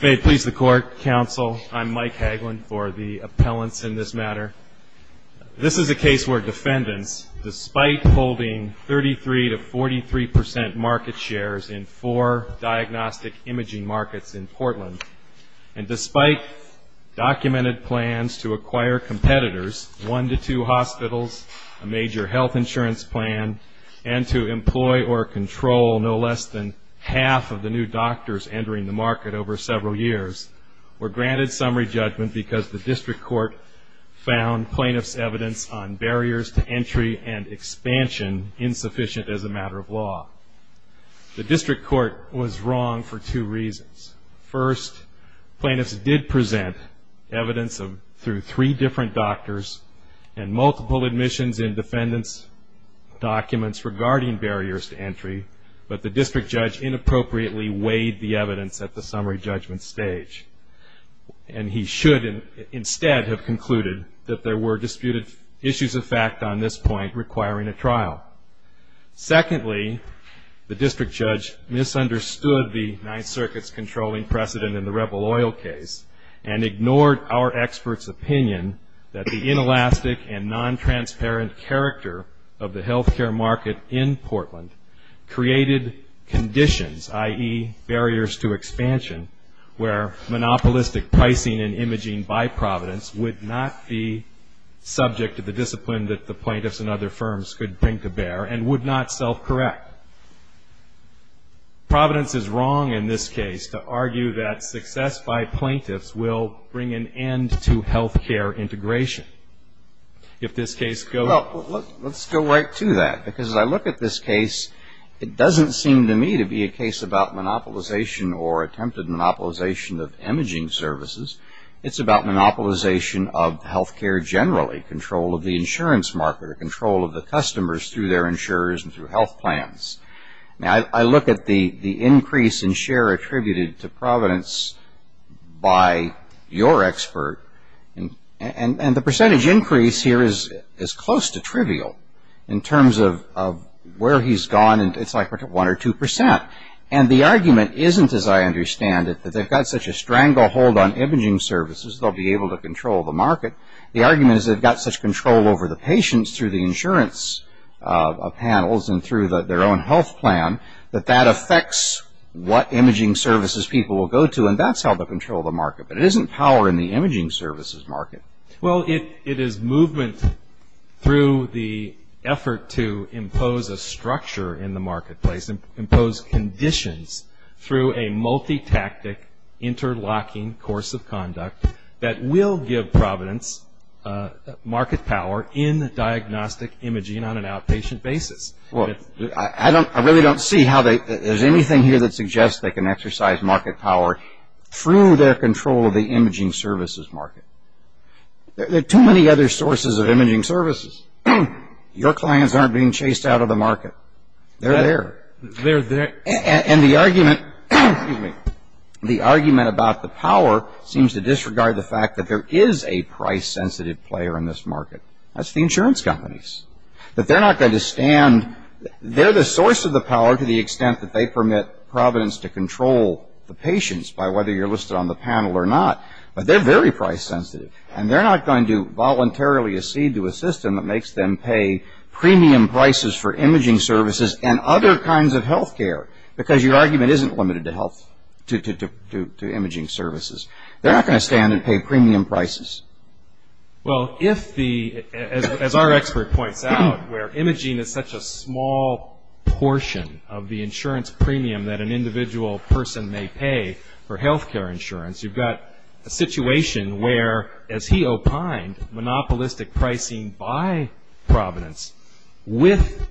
May it please the Court, Counsel, I'm Mike Hagelin for the appellants in this matter. This is a case where defendants, despite holding 33 to 43 percent market shares in four diagnostic imaging markets in Portland, and despite documented plans to acquire competitors, one to two hospitals, a major health insurance plan, and to employ or control no less than half of the new doctors entering the market over several years, were granted summary judgment because the district court found plaintiffs' evidence on barriers to entry and expansion insufficient as a matter of law. The district court was wrong for two reasons. First, plaintiffs did present evidence through three different doctors and multiple admissions and defendants' documents regarding barriers to entry, but the district judge inappropriately weighed the evidence at the summary judgment stage. And he should instead have concluded that there were disputed issues of fact on this point requiring a trial. Secondly, the district judge misunderstood the Ninth Circuit's controlling precedent in the Rebel Oil case and ignored our experts' opinion that the inelastic and non-transparent character of the health care market in Portland created conditions, i.e., barriers to expansion, where monopolistic pricing and imaging by Providence would not be subject to the discipline that the plaintiffs and other firms could bring to bear and would not self-correct. Providence is wrong in this case to argue that success by plaintiffs will bring an end to health care integration. If this case goes... Well, let's go right to that. Because as I look at this case, it doesn't seem to me to be a case about monopolization or attempted monopolization of imaging services. It's about monopolization of health care generally, control of the insurance market, or control of the customers through their insurers and through health plans. Now, I look at the increase in share attributed to Providence by your expert and the percentage increase here is close to trivial in terms of where he's gone. It's like 1 or 2 percent. And the argument isn't, as I understand it, that they've got such a stranglehold on imaging services they'll be able to control the market. The argument is they've got such control over the patients through the insurance panels and through their own health plan that that affects what imaging services people will go to, and that's how they'll control the market. But it isn't power in the imaging services market. Well, it is movement through the effort to impose a structure in the marketplace, impose conditions through a multi-tactic interlocking course of conduct that will give Providence market power in diagnostic imaging on an outpatient basis. Well, I really don't see how there's anything here that suggests they can exercise market power through their control of the imaging services market. There are too many other sources of imaging services. Your clients aren't being chased out of the market. They're there. They're there. And the argument about the power seems to disregard the fact that there is a price-sensitive player in this market. That's the insurance companies. They're not going to stand. They're the source of the power to the extent that they permit Providence to control the patients by whether you're listed on the panel or not. But they're very price-sensitive, and they're not going to voluntarily accede to a system that makes them pay premium prices for imaging services and other kinds of health care, because your argument isn't limited to imaging services. They're not going to stand and pay premium prices. Well, as our expert points out, where imaging is such a small portion of the insurance premium that an individual person may pay for health care insurance, you've got a situation where, as he opined, monopolistic pricing by Providence, with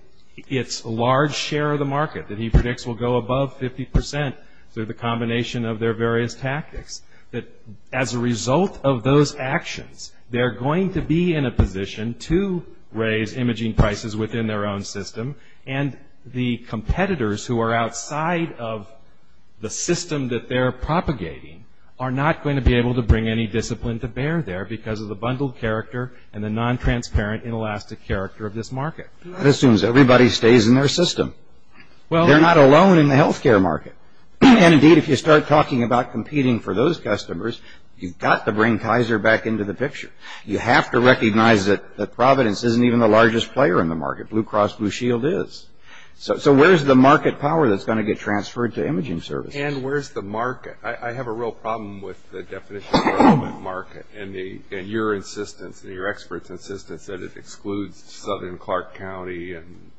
its large share of the market that he predicts will go above 50 percent through the combination of their various tactics, that as a result of those actions, they're going to be in a position to raise imaging prices within their own system, and the competitors who are outside of the system that they're propagating are not going to be able to bring any discipline to bear there because of the bundled character and the non-transparent inelastic character of this market. That assumes everybody stays in their system. They're not alone in the health care market. And, indeed, if you start talking about competing for those customers, you've got to bring Kaiser back into the picture. You have to recognize that Providence isn't even the largest player in the market. Blue Cross Blue Shield is. So where's the market power that's going to get transferred to imaging services? And where's the market? I have a real problem with the definition of the market and your insistence and your expert's insistence that it excludes southern Clark County and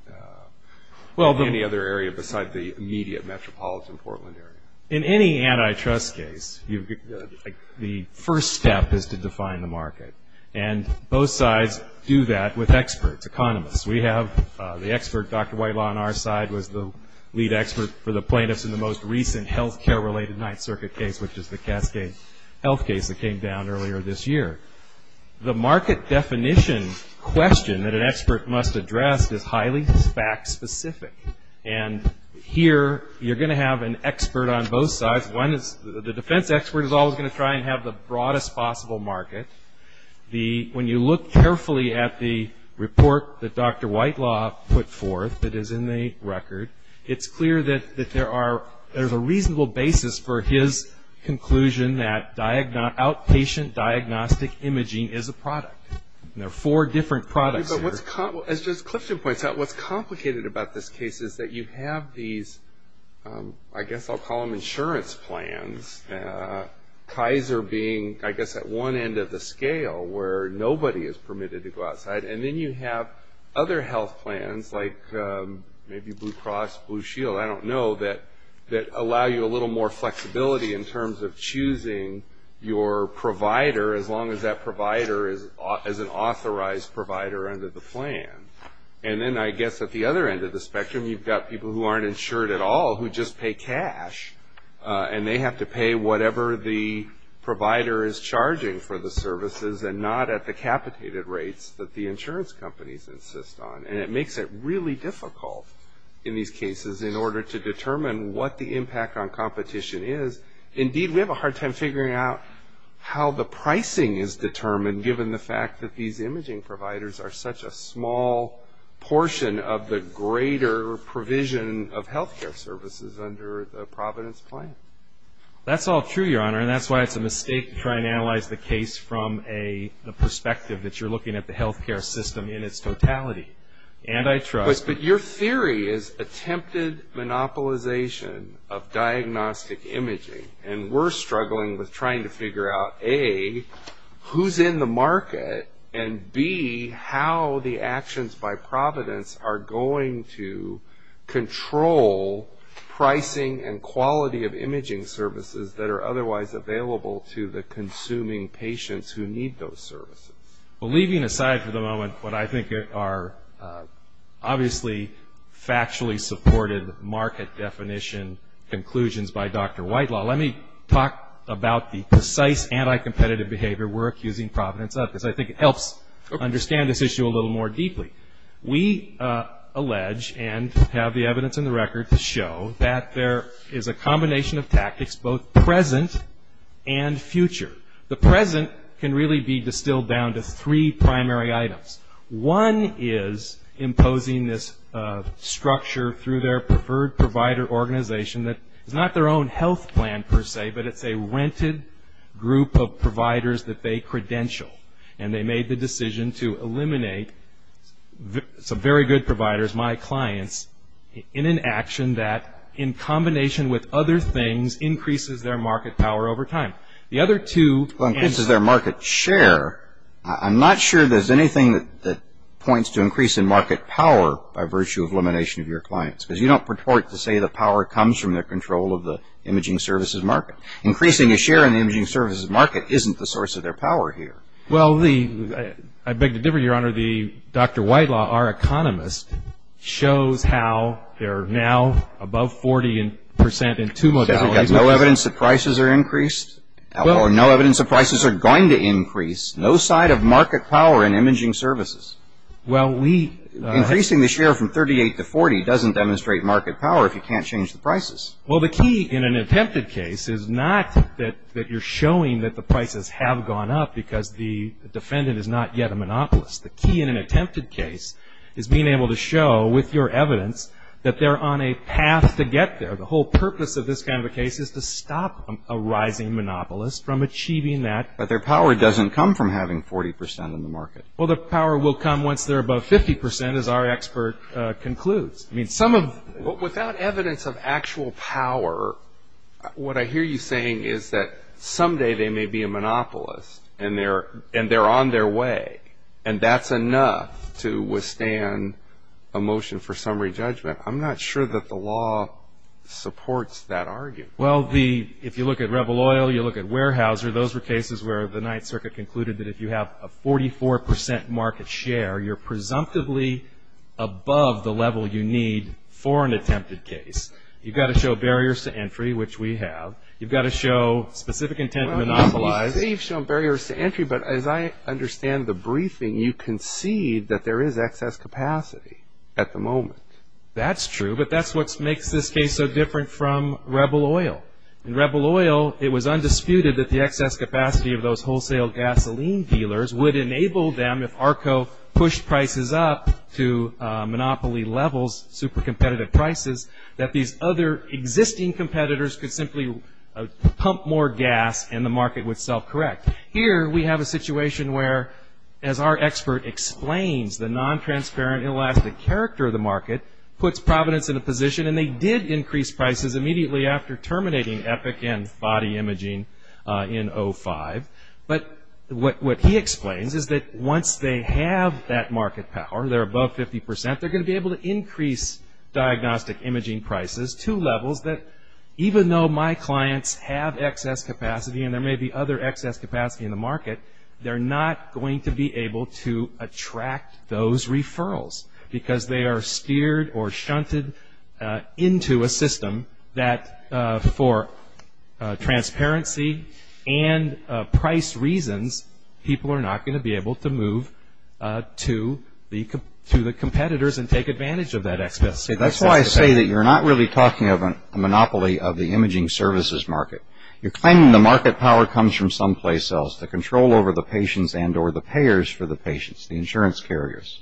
any other area besides the immediate metropolitan Portland area. In any antitrust case, the first step is to define the market, and both sides do that with experts, economists. We have the expert, Dr. Whitelaw on our side, was the lead expert for the plaintiffs in the most recent health care-related Ninth Circuit case, which is the Cascade Health case that came down earlier this year. The market definition question that an expert must address is highly fact-specific. And here you're going to have an expert on both sides. One is the defense expert is always going to try and have the broadest possible market. When you look carefully at the report that Dr. Whitelaw put forth that is in the record, it's clear that there's a reasonable basis for his conclusion that outpatient diagnostic imaging is a product. There are four different products. But what's complicated about this case is that you have these, I guess I'll call them insurance plans, Kaiser being, I guess, at one end of the scale where nobody is permitted to go outside, and then you have other health plans like maybe Blue Cross Blue Shield, I don't know, that allow you a little more flexibility in terms of choosing your provider as long as that provider is an authorized provider under the plan. And then I guess at the other end of the spectrum, you've got people who aren't insured at all who just pay cash, and they have to pay whatever the provider is charging for the services and not at the capitated rates that the insurance companies insist on. And it makes it really difficult in these cases in order to determine what the impact on competition is. Indeed, we have a hard time figuring out how the pricing is determined given the fact that these imaging providers are such a small portion of the greater provision of health care services under the Providence plan. That's all true, Your Honor, and that's why it's a mistake to try and analyze the case from the perspective that you're looking at the health care system in its totality. But your theory is attempted monopolization of diagnostic imaging, and we're struggling with trying to figure out, A, who's in the market, and, B, how the actions by Providence are going to control pricing and quality of imaging services that are otherwise available to the consuming patients who need those services. Well, leaving aside for the moment what I think are obviously factually supported market definition conclusions by Dr. Whitelaw, let me talk about the precise anti-competitive behavior we're accusing Providence of, because I think it helps understand this issue a little more deeply. We allege, and have the evidence in the record to show, that there is a combination of tactics both present and future. The present can really be distilled down to three primary items. One is imposing this structure through their preferred provider organization that is not their own health plan, per se, but it's a rented group of providers that they credential, and they made the decision to eliminate some very good providers, my clients, in an action that, in combination with other things, increases their market power over time. The other two... Increases their market share? I'm not sure there's anything that points to increase in market power by virtue of elimination of your clients, because you don't purport to say the power comes from their control of the imaging services market. Increasing the share in the imaging services market isn't the source of their power here. Well, I beg to differ, Your Honor. Dr. Whitelaw, our economist, shows how they're now above 40 percent in two modalities. So you've got no evidence that prices are increased? Or no evidence that prices are going to increase? No sign of market power in imaging services? Well, we... Increasing the share from 38 to 40 doesn't demonstrate market power if you can't change the prices. Well, the key in an attempted case is not that you're showing that the prices have gone up because the defendant is not yet a monopolist. The key in an attempted case is being able to show, with your evidence, that they're on a path to get there. The whole purpose of this kind of a case is to stop a rising monopolist from achieving that. But their power doesn't come from having 40 percent in the market? Well, their power will come once they're above 50 percent, as our expert concludes. I mean, some of... Without evidence of actual power, what I hear you saying is that someday they may be a monopolist and they're on their way, and that's enough to withstand a motion for summary judgment. I'm not sure that the law supports that argument. Well, if you look at Rebel Oil, you look at Weyerhaeuser, those were cases where the Ninth Circuit concluded that if you have a 44 percent market share, you're presumptively above the level you need for an attempted case. You've got to show barriers to entry, which we have. You've got to show specific intent to monopolize. You say you've shown barriers to entry, but as I understand the briefing, you concede that there is excess capacity at the moment. That's true, but that's what makes this case so different from Rebel Oil. In Rebel Oil, it was undisputed that the excess capacity of those wholesale gasoline dealers would enable them, if ARCO pushed prices up to monopoly levels, super competitive prices, that these other existing competitors could simply pump more gas and the market would self-correct. Here we have a situation where, as our expert explains, the non-transparent, inelastic character of the market puts Providence in a position, and they did increase prices immediately after terminating Epic and body imaging in 2005. But what he explains is that once they have that market power, they're above 50 percent, they're going to be able to increase diagnostic imaging prices to levels that, even though my clients have excess capacity and there may be other excess capacity in the market, they're not going to be able to attract those referrals because they are steered or shunted into a system that, for transparency and price reasons, people are not going to be able to move to the competitors and take advantage of that excess capacity. That's why I say that you're not really talking of a monopoly of the imaging services market. You're claiming the market power comes from someplace else, the control over the patients and or the payers for the patients, the insurance carriers.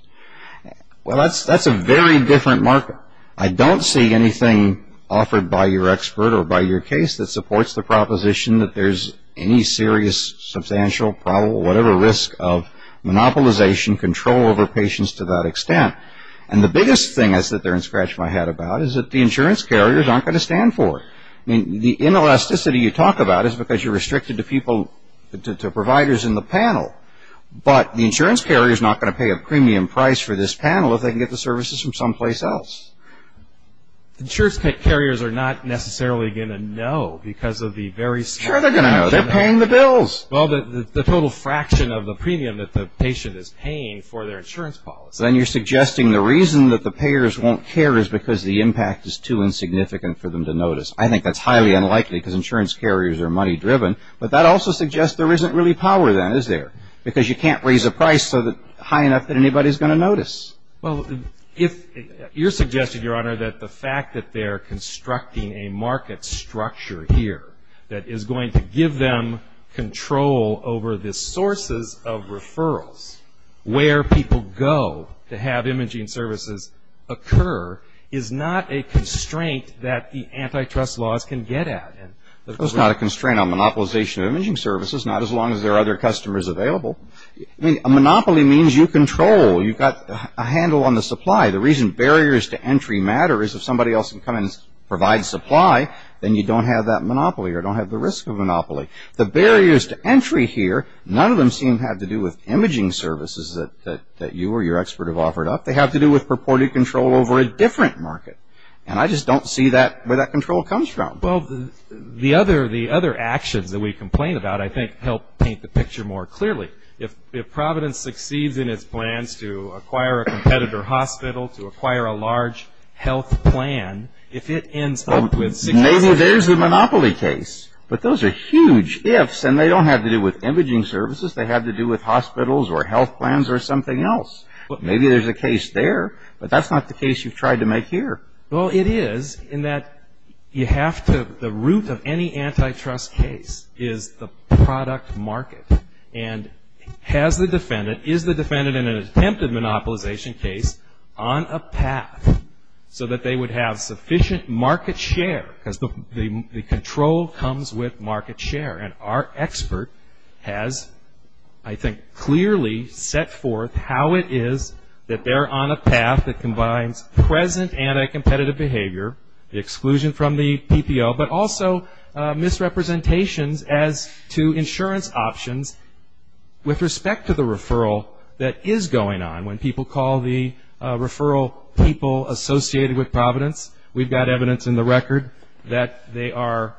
Well, that's a very different market. I don't see anything offered by your expert or by your case that supports the proposition that there's any serious substantial, probable, whatever risk of monopolization, control over patients to that extent. And the biggest thing I said there and scratched my head about is that the insurance carriers aren't going to stand for it. I mean, the inelasticity you talk about is because you're restricted to people, to providers in the panel. But the insurance carrier is not going to pay a premium price for this panel if they can get the services from someplace else. Insurance carriers are not necessarily going to know because of the very scale. Sure, they're going to know. They're paying the bills. Well, the total fraction of the premium that the patient is paying for their insurance policy. Then you're suggesting the reason that the payers won't care is because the impact is too insignificant for them to notice. I think that's highly unlikely because insurance carriers are money-driven. But that also suggests there isn't really power then, is there? Because you can't raise a price so high enough that anybody's going to notice. Well, if you're suggesting, Your Honor, that the fact that they're constructing a market structure here that is going to give them control over the sources of referrals, where people go to have imaging services occur, is not a constraint that the antitrust laws can get at. It's not a constraint on monopolization of imaging services, not as long as there are other customers available. A monopoly means you control. You've got a handle on the supply. The reason barriers to entry matter is if somebody else can come and provide supply, then you don't have that monopoly or don't have the risk of monopoly. The barriers to entry here, none of them seem to have to do with imaging services that you or your expert have offered up. They have to do with purported control over a different market. And I just don't see where that control comes from. Well, the other actions that we complain about, I think, help paint the picture more clearly. If Providence succeeds in its plans to acquire a competitor hospital, to acquire a large health plan, if it ends up with six or seven- Maybe there's a monopoly case. But those are huge ifs, and they don't have to do with imaging services. They have to do with hospitals or health plans or something else. Maybe there's a case there, but that's not the case you've tried to make here. Well, it is in that you have to, the root of any antitrust case is the product market. And has the defendant, is the defendant in an attempted monopolization case on a path so that they would have sufficient market share, because the control comes with market share. And our expert has, I think, clearly set forth how it is that they're on a path that combines present anti-competitive behavior, the exclusion from the PPO, but also misrepresentations as to insurance options with respect to the referral that is going on. When people call the referral people associated with Providence, we've got evidence in the record that they are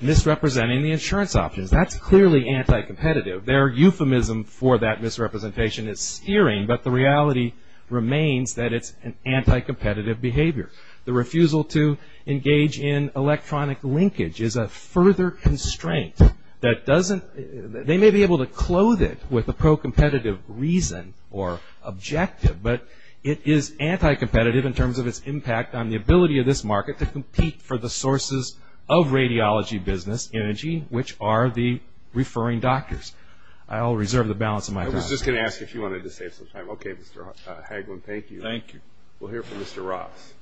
misrepresenting the insurance options. That's clearly anti-competitive. Their euphemism for that misrepresentation is searing, but the reality remains that it's an anti-competitive behavior. The refusal to engage in electronic linkage is a further constraint that doesn't, they may be able to clothe it with a pro-competitive reason or objective, but it is anti-competitive in terms of its impact on the ability of this market to compete for the sources of radiology business energy, which are the referring doctors. I'll reserve the balance of my time. I was just going to ask if you wanted to save some time. Okay, Mr. Hagelin, thank you. Thank you. We'll hear from Mr. Ross.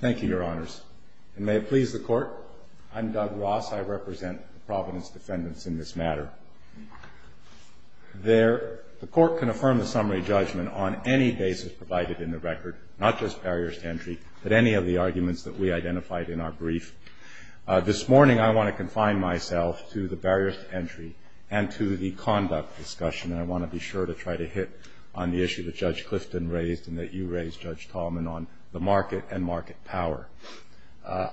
Thank you, Your Honors. And may it please the Court, I'm Doug Ross. I represent the Providence defendants in this matter. The Court can affirm the summary judgment on any basis provided in the record, not just barriers to entry, but any of the arguments that we identified in our brief. This morning I want to confine myself to the barriers to entry and to the conduct discussion, and I want to be sure to try to hit on the issue that Judge Clifton raised and that you raised, Judge Tallman, on the market and market power.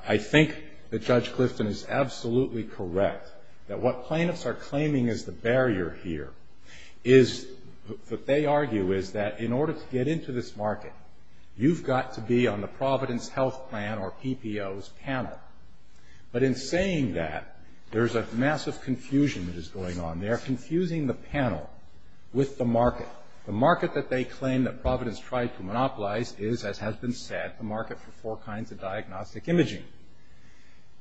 I think that Judge Clifton is absolutely correct that what plaintiffs are claiming is the barrier here is that they argue is that in order to get into this market, you've got to be on the Providence health plan or PPO's panel. But in saying that, there's a massive confusion that is going on. They're confusing the panel with the market. The market that they claim that Providence tried to monopolize is, as has been said, the market for four kinds of diagnostic imaging.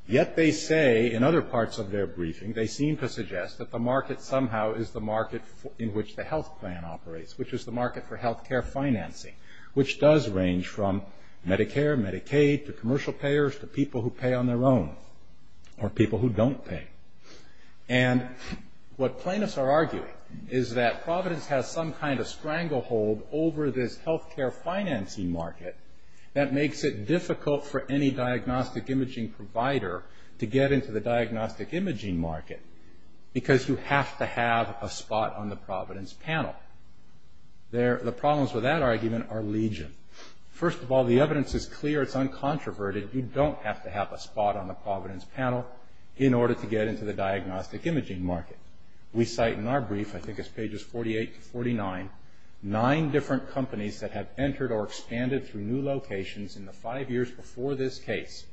Yet they say in other parts of their briefing, they seem to suggest that the market somehow is the market in which the health plan operates, which is the market for health care financing, which does range from Medicare, Medicaid, to commercial payers, to people who pay on their own, or people who don't pay. And what plaintiffs are arguing is that Providence has some kind of stranglehold over this health care financing market that makes it difficult for any diagnostic imaging provider to get into the diagnostic imaging market because you have to have a spot on the Providence panel. The problems with that argument are legion. First of all, the evidence is clear. It's uncontroverted. You don't have to have a spot on the Providence panel in order to get into the diagnostic imaging market. We cite in our brief, I think it's pages 48 to 49, nine different companies that have entered or expanded through new locations in the five years before this case,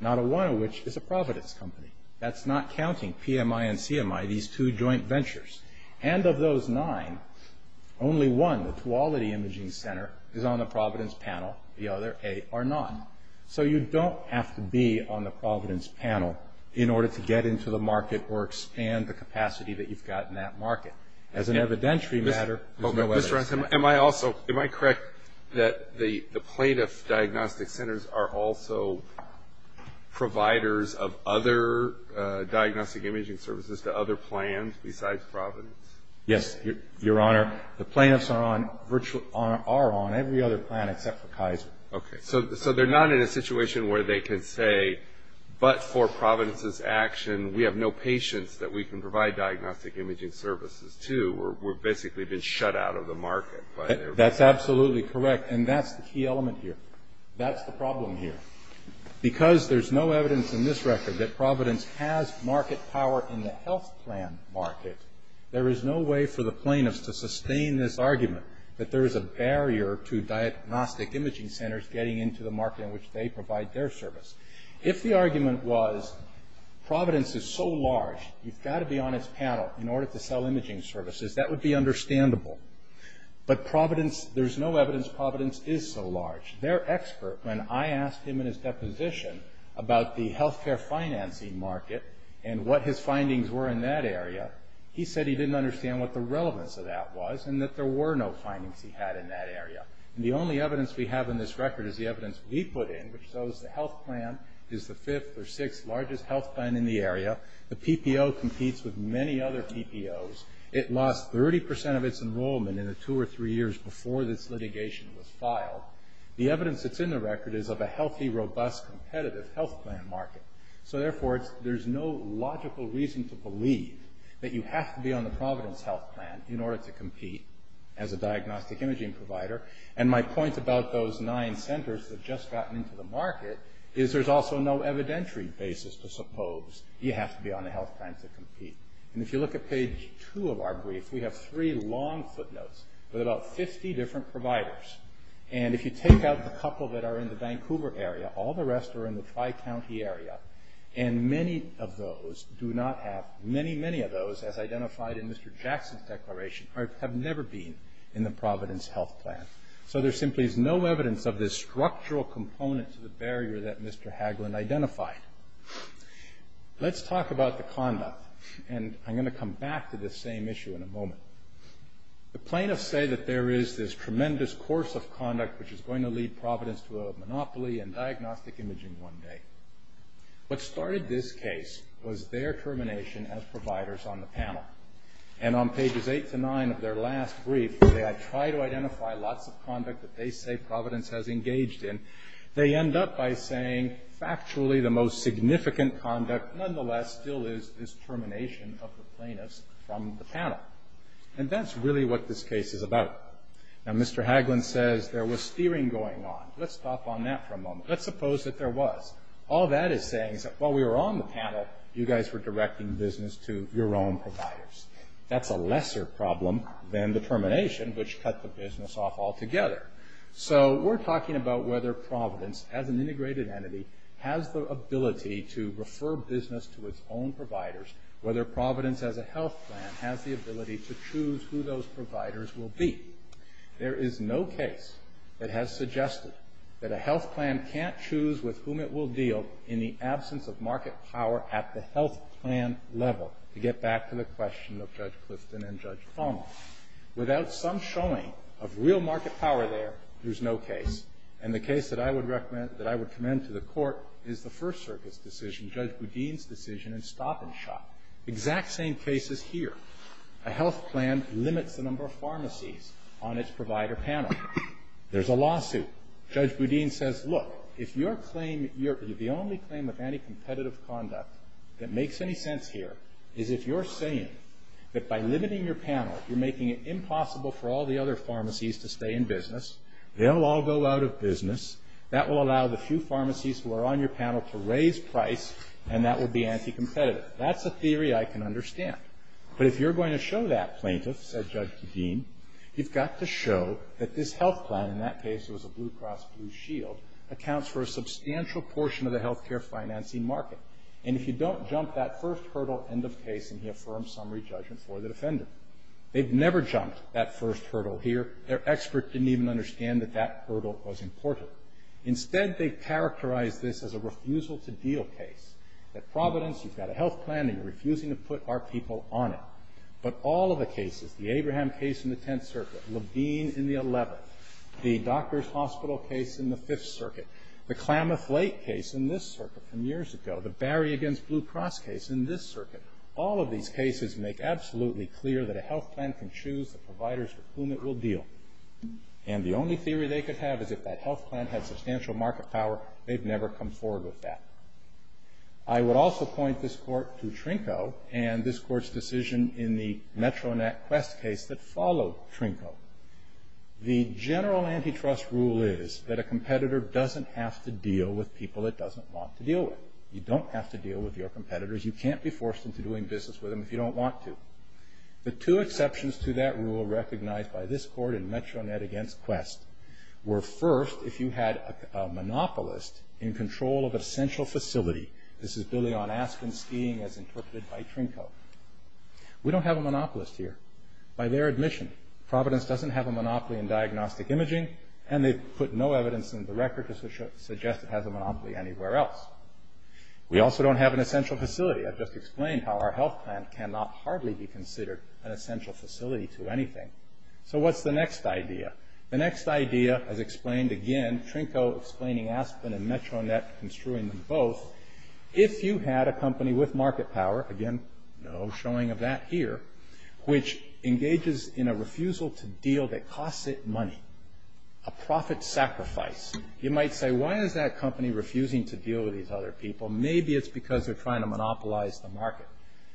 not a one of which is a Providence company. That's not counting PMI and CMI, these two joint ventures. And of those nine, only one, the Tuolity Imaging Center, is on the Providence panel, the other eight are not. So you don't have to be on the Providence panel in order to get into the market or expand the capacity that you've got in that market. As an evidentiary matter, there's no evidence. Am I correct that the plaintiff diagnostic centers are also providers of other diagnostic imaging services to other plans besides Providence? Yes, Your Honor. Okay. So they're not in a situation where they can say, but for Providence's action, we have no patients that we can provide diagnostic imaging services to. We've basically been shut out of the market. That's absolutely correct, and that's the key element here. That's the problem here. Because there's no evidence in this record that Providence has market power in the health plan market, there is no way for the plaintiffs to sustain this argument that there is a barrier to diagnostic imaging centers getting into the market in which they provide their service. If the argument was, Providence is so large, you've got to be on its panel in order to sell imaging services, that would be understandable. But there's no evidence Providence is so large. Their expert, when I asked him in his deposition about the health care financing market and what his findings were in that area, he said he didn't understand what the relevance of that was, and that there were no findings he had in that area. The only evidence we have in this record is the evidence we put in, which shows the health plan is the fifth or sixth largest health plan in the area. The PPO competes with many other PPOs. It lost 30% of its enrollment in the two or three years before this litigation was filed. The evidence that's in the record is of a healthy, robust, competitive health plan market. So, therefore, there's no logical reason to believe that you have to be on the Providence health plan in order to compete as a diagnostic imaging provider. And my point about those nine centers that have just gotten into the market is there's also no evidentiary basis to suppose you have to be on the health plan to compete. And if you look at page two of our brief, we have three long footnotes with about 50 different providers. And if you take out the couple that are in the Vancouver area, all the rest are in the Tri-County area. And many, many of those, as identified in Mr. Jackson's declaration, have never been in the Providence health plan. So there simply is no evidence of this structural component to the barrier that Mr. Haglund identified. Let's talk about the conduct. And I'm going to come back to this same issue in a moment. The plaintiffs say that there is this tremendous course of conduct which is going to lead Providence to a monopoly in diagnostic imaging one day. What started this case was their termination as providers on the panel. And on pages eight to nine of their last brief, where they had tried to identify lots of conduct that they say Providence has engaged in, they end up by saying factually the most significant conduct nonetheless still is this termination of the plaintiffs from the panel. And that's really what this case is about. Now, Mr. Haglund says there was steering going on. Let's stop on that for a moment. Let's suppose that there was. All that is saying is that while we were on the panel, you guys were directing business to your own providers. That's a lesser problem than the termination, which cut the business off altogether. So we're talking about whether Providence, as an integrated entity, has the ability to refer business to its own providers, whether Providence as a health plan has the ability to choose who those providers will be. There is no case that has suggested that a health plan can't choose with whom it will deal in the absence of market power at the health plan level, to get back to the question of Judge Clifton and Judge Palmer. Without some showing of real market power there, there's no case. And the case that I would recommend to the Court is the First Circus decision, Judge Boudin's decision in Stop and Shop. Exact same case is here. A health plan limits the number of pharmacies on its provider panel. There's a lawsuit. Judge Boudin says, look, if your claim, the only claim of anti-competitive conduct that makes any sense here, is if you're saying that by limiting your panel, you're making it impossible for all the other pharmacies to stay in business, they'll all go out of business, that will allow the few pharmacies who are on your panel to raise price, and that will be anti-competitive. That's a theory I can understand. But if you're going to show that, plaintiff, said Judge Kadeem, you've got to show that this health plan, in that case it was a blue cross blue shield, accounts for a substantial portion of the health care financing market. And if you don't jump that first hurdle, end of case, and he affirms summary judgment for the defendant. They've never jumped that first hurdle here. Their expert didn't even understand that that hurdle was important. Instead, they characterized this as a refusal to deal case. At Providence, you've got a health plan and you're refusing to put our people on it. But all of the cases, the Abraham case in the Tenth Circuit, Levine in the Eleventh, the Doctors Hospital case in the Fifth Circuit, the Klamath Lake case in this circuit from years ago, the Barry against Blue Cross case in this circuit, all of these cases make absolutely clear that a health plan can choose the providers with whom it will deal. And the only theory they could have is if that health plan had substantial market power, they've never come forward with that. I would also point this Court to Trinko and this Court's decision in the Metro Net Quest case that followed Trinko. The general antitrust rule is that a competitor doesn't have to deal with people it doesn't want to deal with. You don't have to deal with your competitors. You can't be forced into doing business with them if you don't want to. The two exceptions to that rule recognized by this Court in Metro Net against Quest were first, if you had a monopolist in control of a central facility. This is Billy on Aspen skiing as interpreted by Trinko. We don't have a monopolist here. By their admission, Providence doesn't have a monopoly in diagnostic imaging and they've put no evidence in the record to suggest it has a monopoly anywhere else. We also don't have an essential facility. I've just explained how our health plan cannot hardly be considered an essential facility to anything. So what's the next idea? The next idea, as explained again, Trinko explaining Aspen and Metro Net, construing them both, if you had a company with market power, again, no showing of that here, which engages in a refusal to deal that costs it money, a profit sacrifice, you might say, why is that company refusing to deal with these other people? Maybe it's because they're trying to monopolize the market.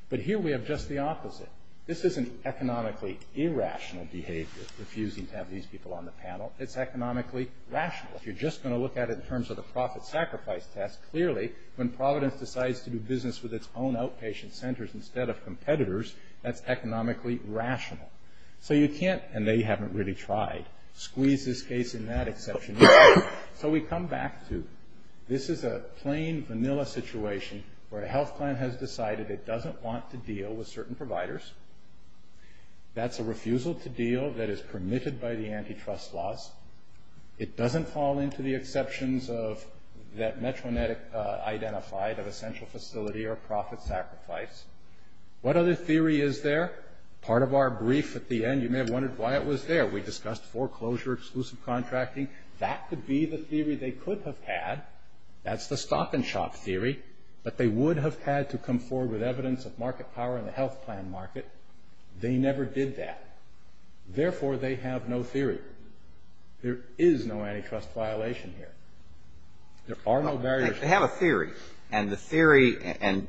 But here we have just the opposite. This isn't economically irrational behavior, refusing to have these people on the panel. It's economically rational. If you're just going to look at it in terms of the profit sacrifice test, clearly when Providence decides to do business with its own outpatient centers instead of competitors, that's economically rational. So you can't, and they haven't really tried, squeeze this case in that exception. So we come back to this is a plain, vanilla situation where a health plan has decided it doesn't want to deal with certain providers. That's a refusal to deal that is permitted by the antitrust laws. It doesn't fall into the exceptions that Metro Net identified of essential facility or profit sacrifice. What other theory is there? Part of our brief at the end, you may have wondered why it was there. We discussed foreclosure, exclusive contracting. That could be the theory they could have had. That's the stock and shop theory. But they would have had to come forward with evidence of market power in the health plan market. They never did that. Therefore, they have no theory. There is no antitrust violation here. There are no barriers. They have a theory. And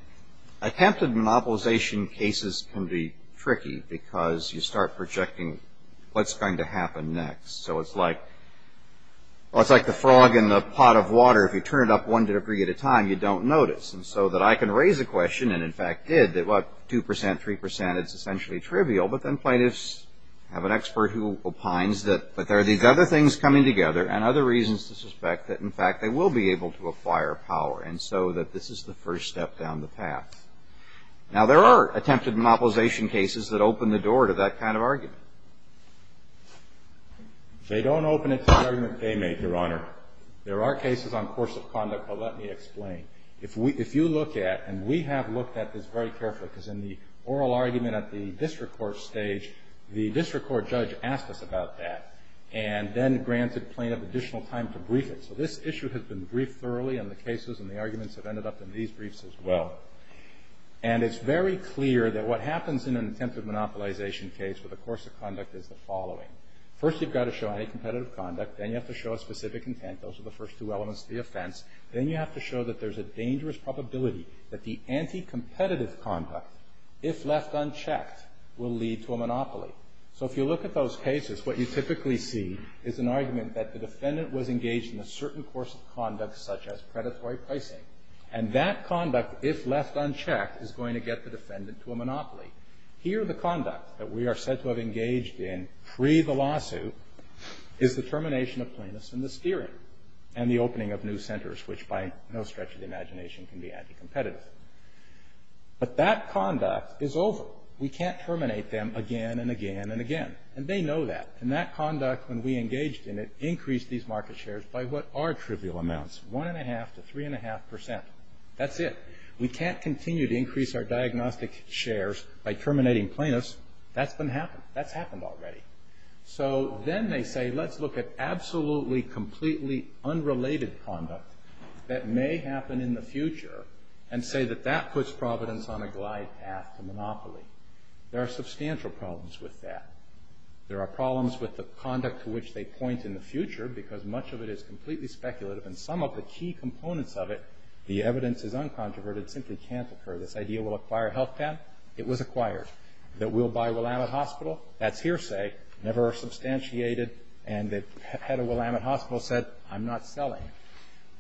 attempted monopolization cases can be tricky because you start projecting what's going to happen next. So it's like the frog in the pot of water. If you turn it up one degree at a time, you don't notice. And so I can raise a question, and in fact did, that 2%, 3% is essentially trivial. But then plaintiffs have an expert who opines that there are these other things coming together and other reasons to suspect that, in fact, they will be able to acquire power. And so that this is the first step down the path. Now, there are attempted monopolization cases that open the door to that kind of argument. They don't open it to the argument they make, Your Honor. There are cases on course of conduct, but let me explain. If you look at, and we have looked at this very carefully because in the oral argument at the district court stage, the district court judge asked us about that and then granted plaintiff additional time to brief it. So this issue has been briefed thoroughly in the cases, and the arguments have ended up in these briefs as well. And it's very clear that what happens in an attempted monopolization case with a course of conduct is the following. First, you've got to show any competitive conduct. Then you have to show a specific intent. Those are the first two elements of the offense. Then you have to show that there's a dangerous probability that the anti-competitive conduct, if left unchecked, will lead to a monopoly. So if you look at those cases, what you typically see is an argument that the defendant was engaged in a certain course of conduct such as predatory pricing, and that conduct, if left unchecked, is going to get the defendant to a monopoly. Here, the conduct that we are said to have engaged in pre the lawsuit is the termination of plaintiffs and the steering and the opening of new centers, which by no stretch of the imagination can be anti-competitive. But that conduct is over. We can't terminate them again and again and again. And they know that. And that conduct, when we engaged in it, increased these market shares by what are trivial amounts, 1.5 to 3.5%. That's it. We can't continue to increase our diagnostic shares by terminating plaintiffs. That's been happened. That's happened already. So then they say, let's look at absolutely completely unrelated conduct that may happen in the future and say that that puts Providence on a glide path to monopoly. There are substantial problems with that. There are problems with the conduct to which they point in the future because much of it is completely speculative and some of the key components of it, the evidence is uncontroverted, simply can't occur. This idea will acquire a health plan? It was acquired. That we'll buy Willamette Hospital? That's hearsay, never substantiated, and the head of Willamette Hospital said, I'm not selling.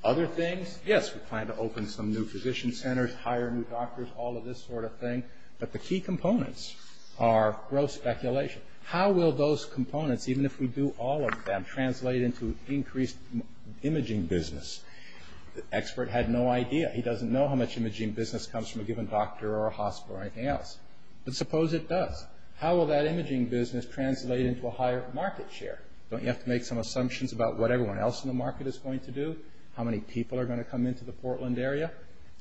Other things? Yes, we plan to open some new physician centers, hire new doctors, all of this sort of thing. But the key components are gross speculation. How will those components, even if we do all of them, translate into increased imaging business? The expert had no idea. He doesn't know how much imaging business comes from a given doctor or a hospital or anything else. But suppose it does. How will that imaging business translate into a higher market share? Don't you have to make some assumptions about what everyone else in the market is going to do? How many people are going to come into the Portland area?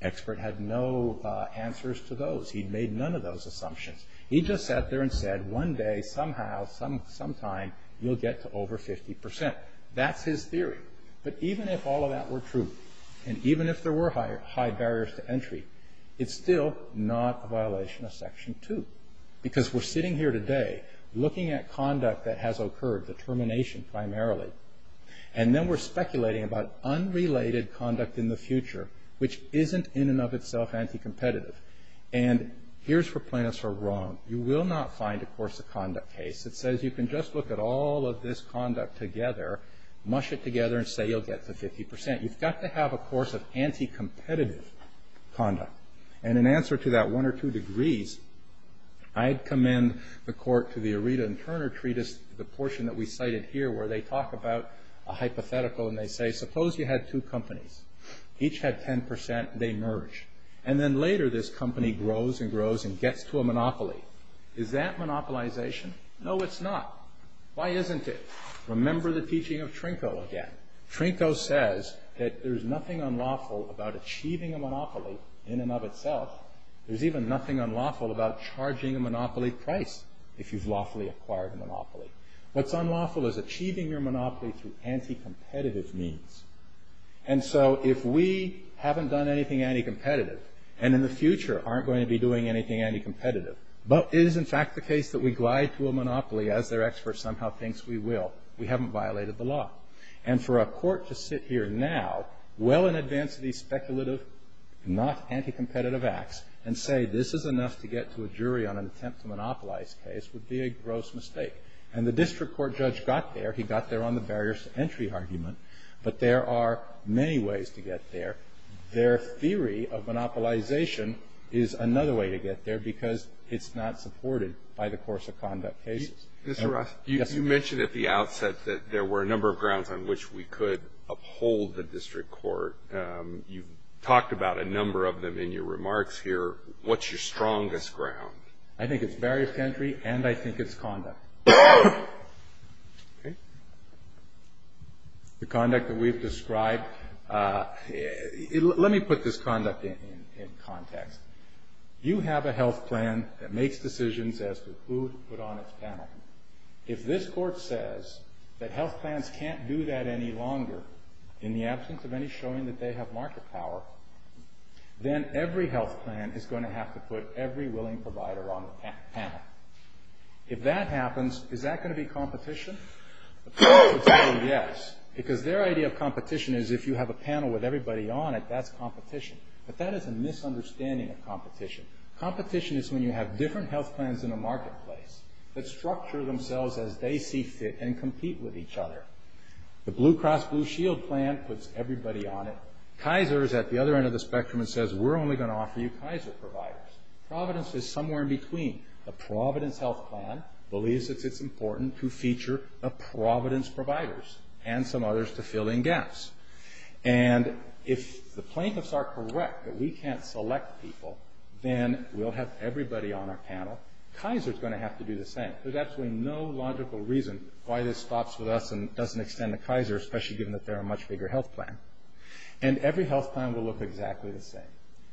The expert had no answers to those. He made none of those assumptions. He just sat there and said, one day, somehow, sometime, you'll get to over 50%. That's his theory. But even if all of that were true, and even if there were high barriers to entry, it's still not a violation of Section 2. Because we're sitting here today looking at conduct that has occurred, determination primarily, and then we're speculating about unrelated conduct in the future, which isn't in and of itself anti-competitive. And here's where plaintiffs are wrong. You will not find a course of conduct case that says you can just look at all of this conduct together, mush it together, and say you'll get to 50%. You've got to have a course of anti-competitive conduct. And in answer to that one or two degrees, I'd commend the court to the Aretha and Turner Treatise, the portion that we cited here where they talk about a hypothetical and they say, suppose you had two companies. Each had 10%. They merged. And then later this company grows and grows and gets to a monopoly. Is that monopolization? No, it's not. Why isn't it? Remember the teaching of Trinko again. Trinko says that there's nothing unlawful about achieving a monopoly in and of itself. There's even nothing unlawful about charging a monopoly price if you've lawfully acquired a monopoly. What's unlawful is achieving your monopoly through anti-competitive means. And so if we haven't done anything anti-competitive, and in the future aren't going to be doing anything anti-competitive, but it is in fact the case that we glide to a monopoly as their expert somehow thinks we will, we haven't violated the law. And for a court to sit here now well in advance of these speculative, not anti-competitive acts, and say this is enough to get to a jury on an attempt to monopolize the case would be a gross mistake. And the district court judge got there. He got there on the barriers to entry argument. But there are many ways to get there. Their theory of monopolization is another way to get there because it's not supported by the course of conduct cases. Mr. Ross, you mentioned at the outset that there were a number of grounds on which we could uphold the district court. You've talked about a number of them in your remarks here. What's your strongest ground? I think it's barriers to entry, and I think it's conduct. The conduct that we've described, let me put this conduct in context. You have a health plan that makes decisions as to who to put on its panel. If this court says that health plans can't do that any longer in the absence of any showing that they have market power, then every health plan is going to have to put every willing provider on the panel. If that happens, is that going to be competition? The panel would say yes because their idea of competition is if you have a panel with everybody on it, that's competition. But that is a misunderstanding of competition. Competition is when you have different health plans in a marketplace that structure themselves as they see fit and compete with each other. The Blue Cross Blue Shield plan puts everybody on it. Kaiser is at the other end of the spectrum and says we're only going to offer you Kaiser providers. Providence is somewhere in between. The Providence health plan believes that it's important to feature the Providence providers and some others to fill in gaps. And if the plaintiffs are correct that we can't select people, then we'll have everybody on our panel. Kaiser is going to have to do the same. There's absolutely no logical reason why this stops with us and doesn't extend to Kaiser, especially given that they're a much bigger health plan. And every health plan will look exactly the same.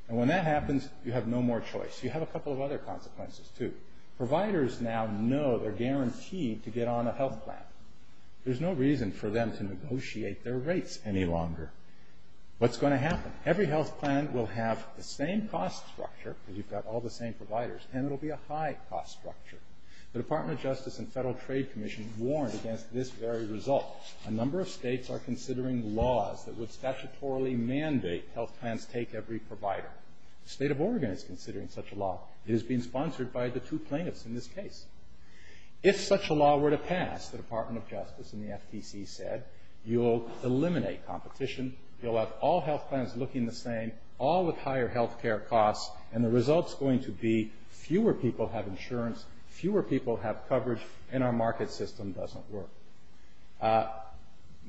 And when that happens, you have no more choice. You have a couple of other consequences, too. Providers now know they're guaranteed to get on a health plan. There's no reason for them to negotiate their rates any longer. What's going to happen? Every health plan will have the same cost structure, because you've got all the same providers, and it'll be a high cost structure. The Department of Justice and Federal Trade Commission warned against this very result. A number of states are considering laws that would statutorily mandate health plans take every provider. The state of Oregon is considering such a law. It is being sponsored by the two plaintiffs in this case. If such a law were to pass, the Department of Justice and the FTC said, you'll eliminate competition, you'll have all health plans looking the same, all with higher health care costs, and the result's going to be fewer people have insurance, fewer people have coverage, and our market system doesn't work.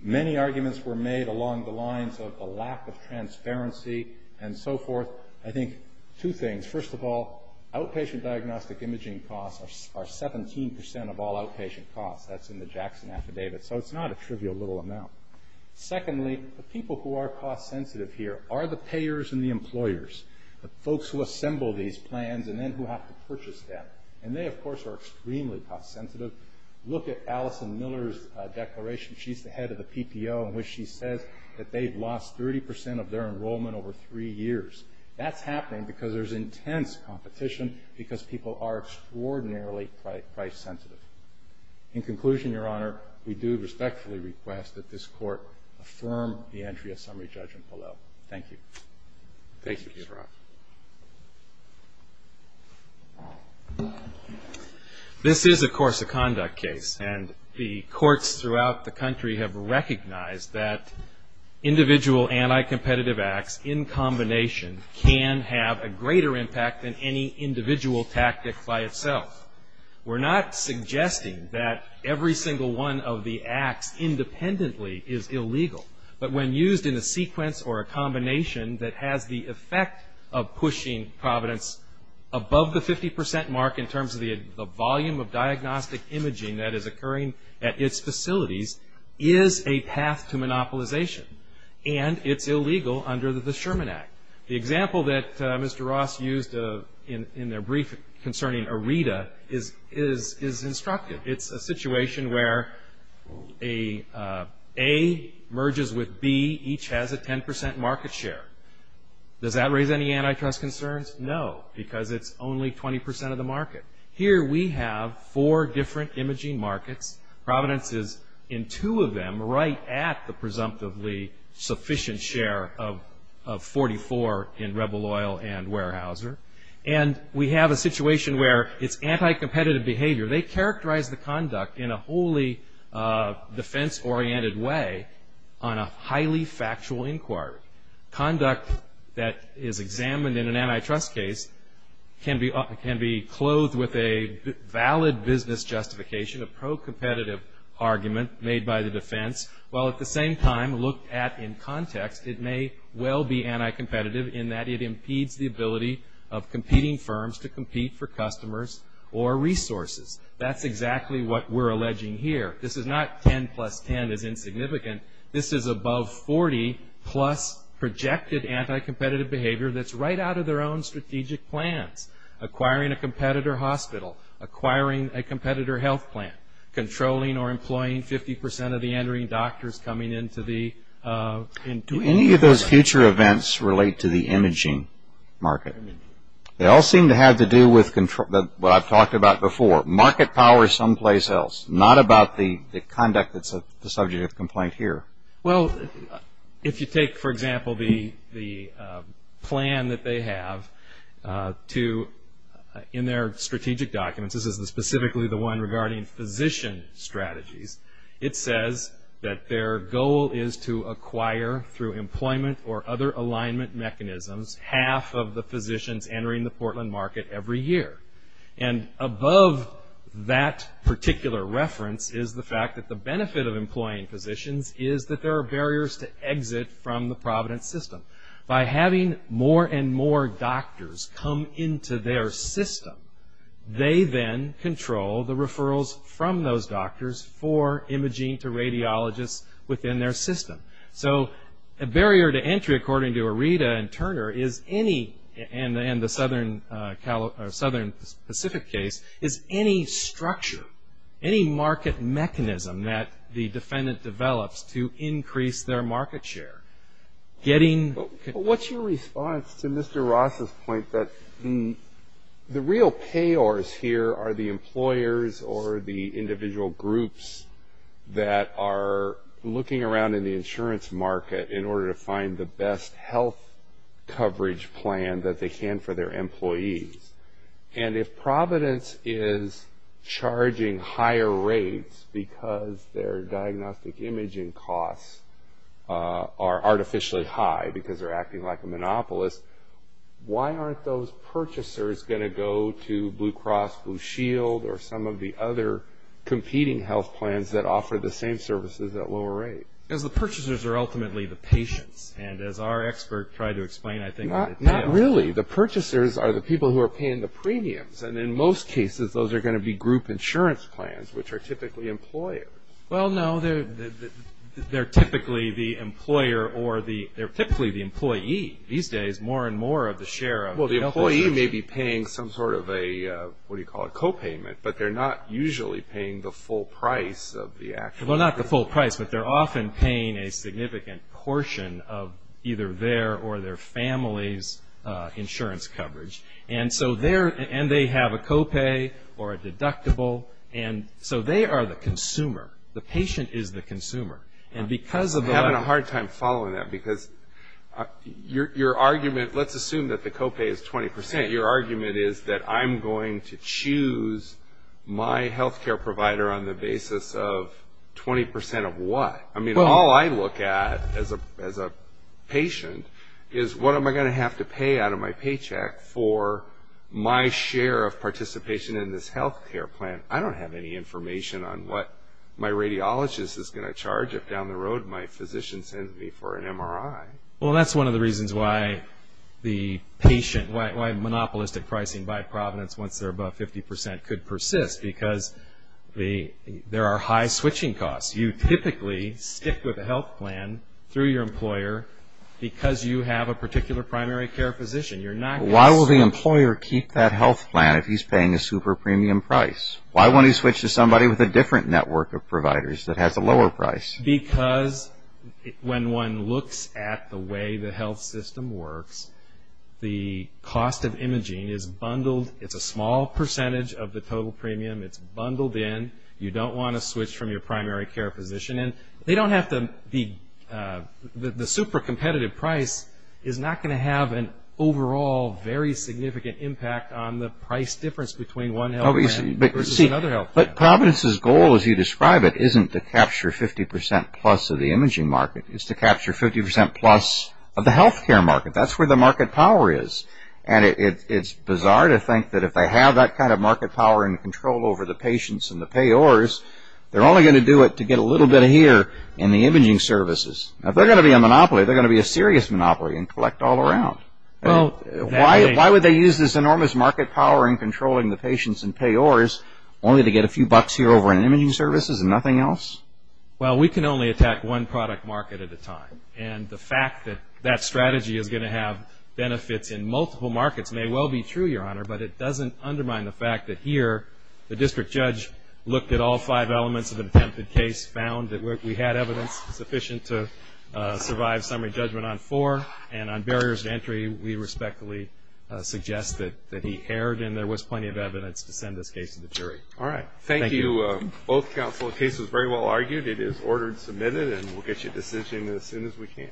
Many arguments were made along the lines of a lack of transparency and so forth. I think two things. First of all, outpatient diagnostic imaging costs are 17 percent of all outpatient costs. That's in the Jackson Affidavit, so it's not a trivial little amount. Secondly, the people who are cost sensitive here are the payers and the employers, the folks who assemble these plans and then who have to purchase them. And they, of course, are extremely cost sensitive. Look at Allison Miller's declaration. She's the head of the PPO in which she says that they've lost 30 percent of their enrollment over three years. That's happening because there's intense competition because people are extraordinarily price sensitive. In conclusion, Your Honor, we do respectfully request that this Court affirm the entry of summary judgment below. Thank you. Thank you, Mr. Roth. This is, of course, a conduct case, and the courts throughout the country have recognized that individual anti-competitive acts in combination can have a greater impact than any individual tactic by itself. We're not suggesting that every single one of the acts independently is illegal, but when used in a sequence or a combination that has the effect of pushing Providence above the 50 percent mark in terms of the volume of diagnostic imaging that is occurring at its facilities is a path to monopolization, and it's illegal under the Sherman Act. The example that Mr. Roth used in their brief concerning AREDA is instructive. It's a situation where A merges with B. Each has a 10 percent market share. Does that raise any antitrust concerns? No, because it's only 20 percent of the market. Here we have four different imaging markets. Providence is in two of them right at the presumptively sufficient share of 44 in Rebel Oil and Weyerhaeuser, and we have a situation where it's anti-competitive behavior. They characterize the conduct in a wholly defense-oriented way on a highly factual inquiry. Conduct that is examined in an antitrust case can be clothed with a valid business justification, a pro-competitive argument made by the defense, while at the same time looked at in context it may well be anti-competitive in that it impedes the ability of competing firms to compete for customers or resources. That's exactly what we're alleging here. This is not 10 plus 10 is insignificant. This is above 40 plus projected anti-competitive behavior that's right out of their own strategic plans. Acquiring a competitor hospital, acquiring a competitor health plan, controlling or employing 50 percent of the entering doctors coming into the ______. Do any of those future events relate to the imaging market? They all seem to have to do with what I've talked about before, market power someplace else, not about the conduct that's the subject of complaint here. Well, if you take, for example, the plan that they have in their strategic documents, this is specifically the one regarding physician strategies, it says that their goal is to acquire through employment or other alignment mechanisms half of the physicians entering the Portland market every year. And above that particular reference is the fact that the benefit of employing physicians is that there are barriers to exit from the Providence system. By having more and more doctors come into their system, they then control the referrals from those doctors for imaging to radiologists within their system. So a barrier to entry, according to Areta and Turner, is any, and the Southern Pacific case, is any structure, any market mechanism that the defendant develops to increase their market share. What's your response to Mr. Ross's point that the real payors here are the employers or the individual groups that are looking around in the insurance market in order to find the best health coverage plan that they can for their employees. And if Providence is charging higher rates because their diagnostic imaging costs are artificially high because they're acting like a monopolist, why aren't those purchasers going to go to Blue Cross Blue Shield or some of the other competing health plans that offer the same services at lower rates? Because the purchasers are ultimately the patients. And as our expert tried to explain, I think... Not really. The purchasers are the people who are paying the premiums. And in most cases, those are going to be group insurance plans, which are typically employers. Well, no, they're typically the employer or they're typically the employee. These days, more and more of the share of... Well, the employee may be paying some sort of a, what do you call it, copayment, but they're not usually paying the full price of the actual... Well, not the full price, but they're often paying a significant portion of either their or their family's insurance coverage. And they have a copay or a deductible, and so they are the consumer. The patient is the consumer. I'm having a hard time following that because your argument... Let's assume that the copay is 20%. Your argument is that I'm going to choose my health care provider on the basis of 20% of what? I mean, all I look at as a patient is, what am I going to have to pay out of my paycheck for my share of participation in this health care plan? I don't have any information on what my radiologist is going to charge if down the road my physician sends me for an MRI. Well, that's one of the reasons why monopolistic pricing by Providence, once they're above 50%, could persist, because there are high switching costs. You typically stick with a health plan through your employer because you have a particular primary care physician. Why will the employer keep that health plan if he's paying a super premium price? Why would he switch to somebody with a different network of providers that has a lower price? Because when one looks at the way the health system works, the cost of imaging is bundled. It's a small percentage of the total premium. It's bundled in. You don't want to switch from your primary care physician. The super competitive price is not going to have an overall very significant impact on the price difference between one health plan versus another health plan. But Providence's goal, as you describe it, isn't to capture 50% plus of the imaging market. It's to capture 50% plus of the health care market. That's where the market power is. And it's bizarre to think that if they have that kind of market power and control over the patients and the payors, they're only going to do it to get a little bit here in the imaging services. If they're going to be a monopoly, they're going to be a serious monopoly and collect all around. Why would they use this enormous market power in controlling the patients and payors only to get a few bucks here over in imaging services and nothing else? Well, we can only attack one product market at a time. And the fact that that strategy is going to have benefits in multiple markets may well be true, Your Honor, but it doesn't undermine the fact that here the district judge looked at all five elements of the attempted case, found that we had evidence sufficient to survive summary judgment on four, and on barriers to entry we respectfully suggest that he erred and there was plenty of evidence to send this case to the jury. All right. Thank you both counsel. The case was very well argued. It is ordered and submitted, and we'll get you a decision as soon as we can.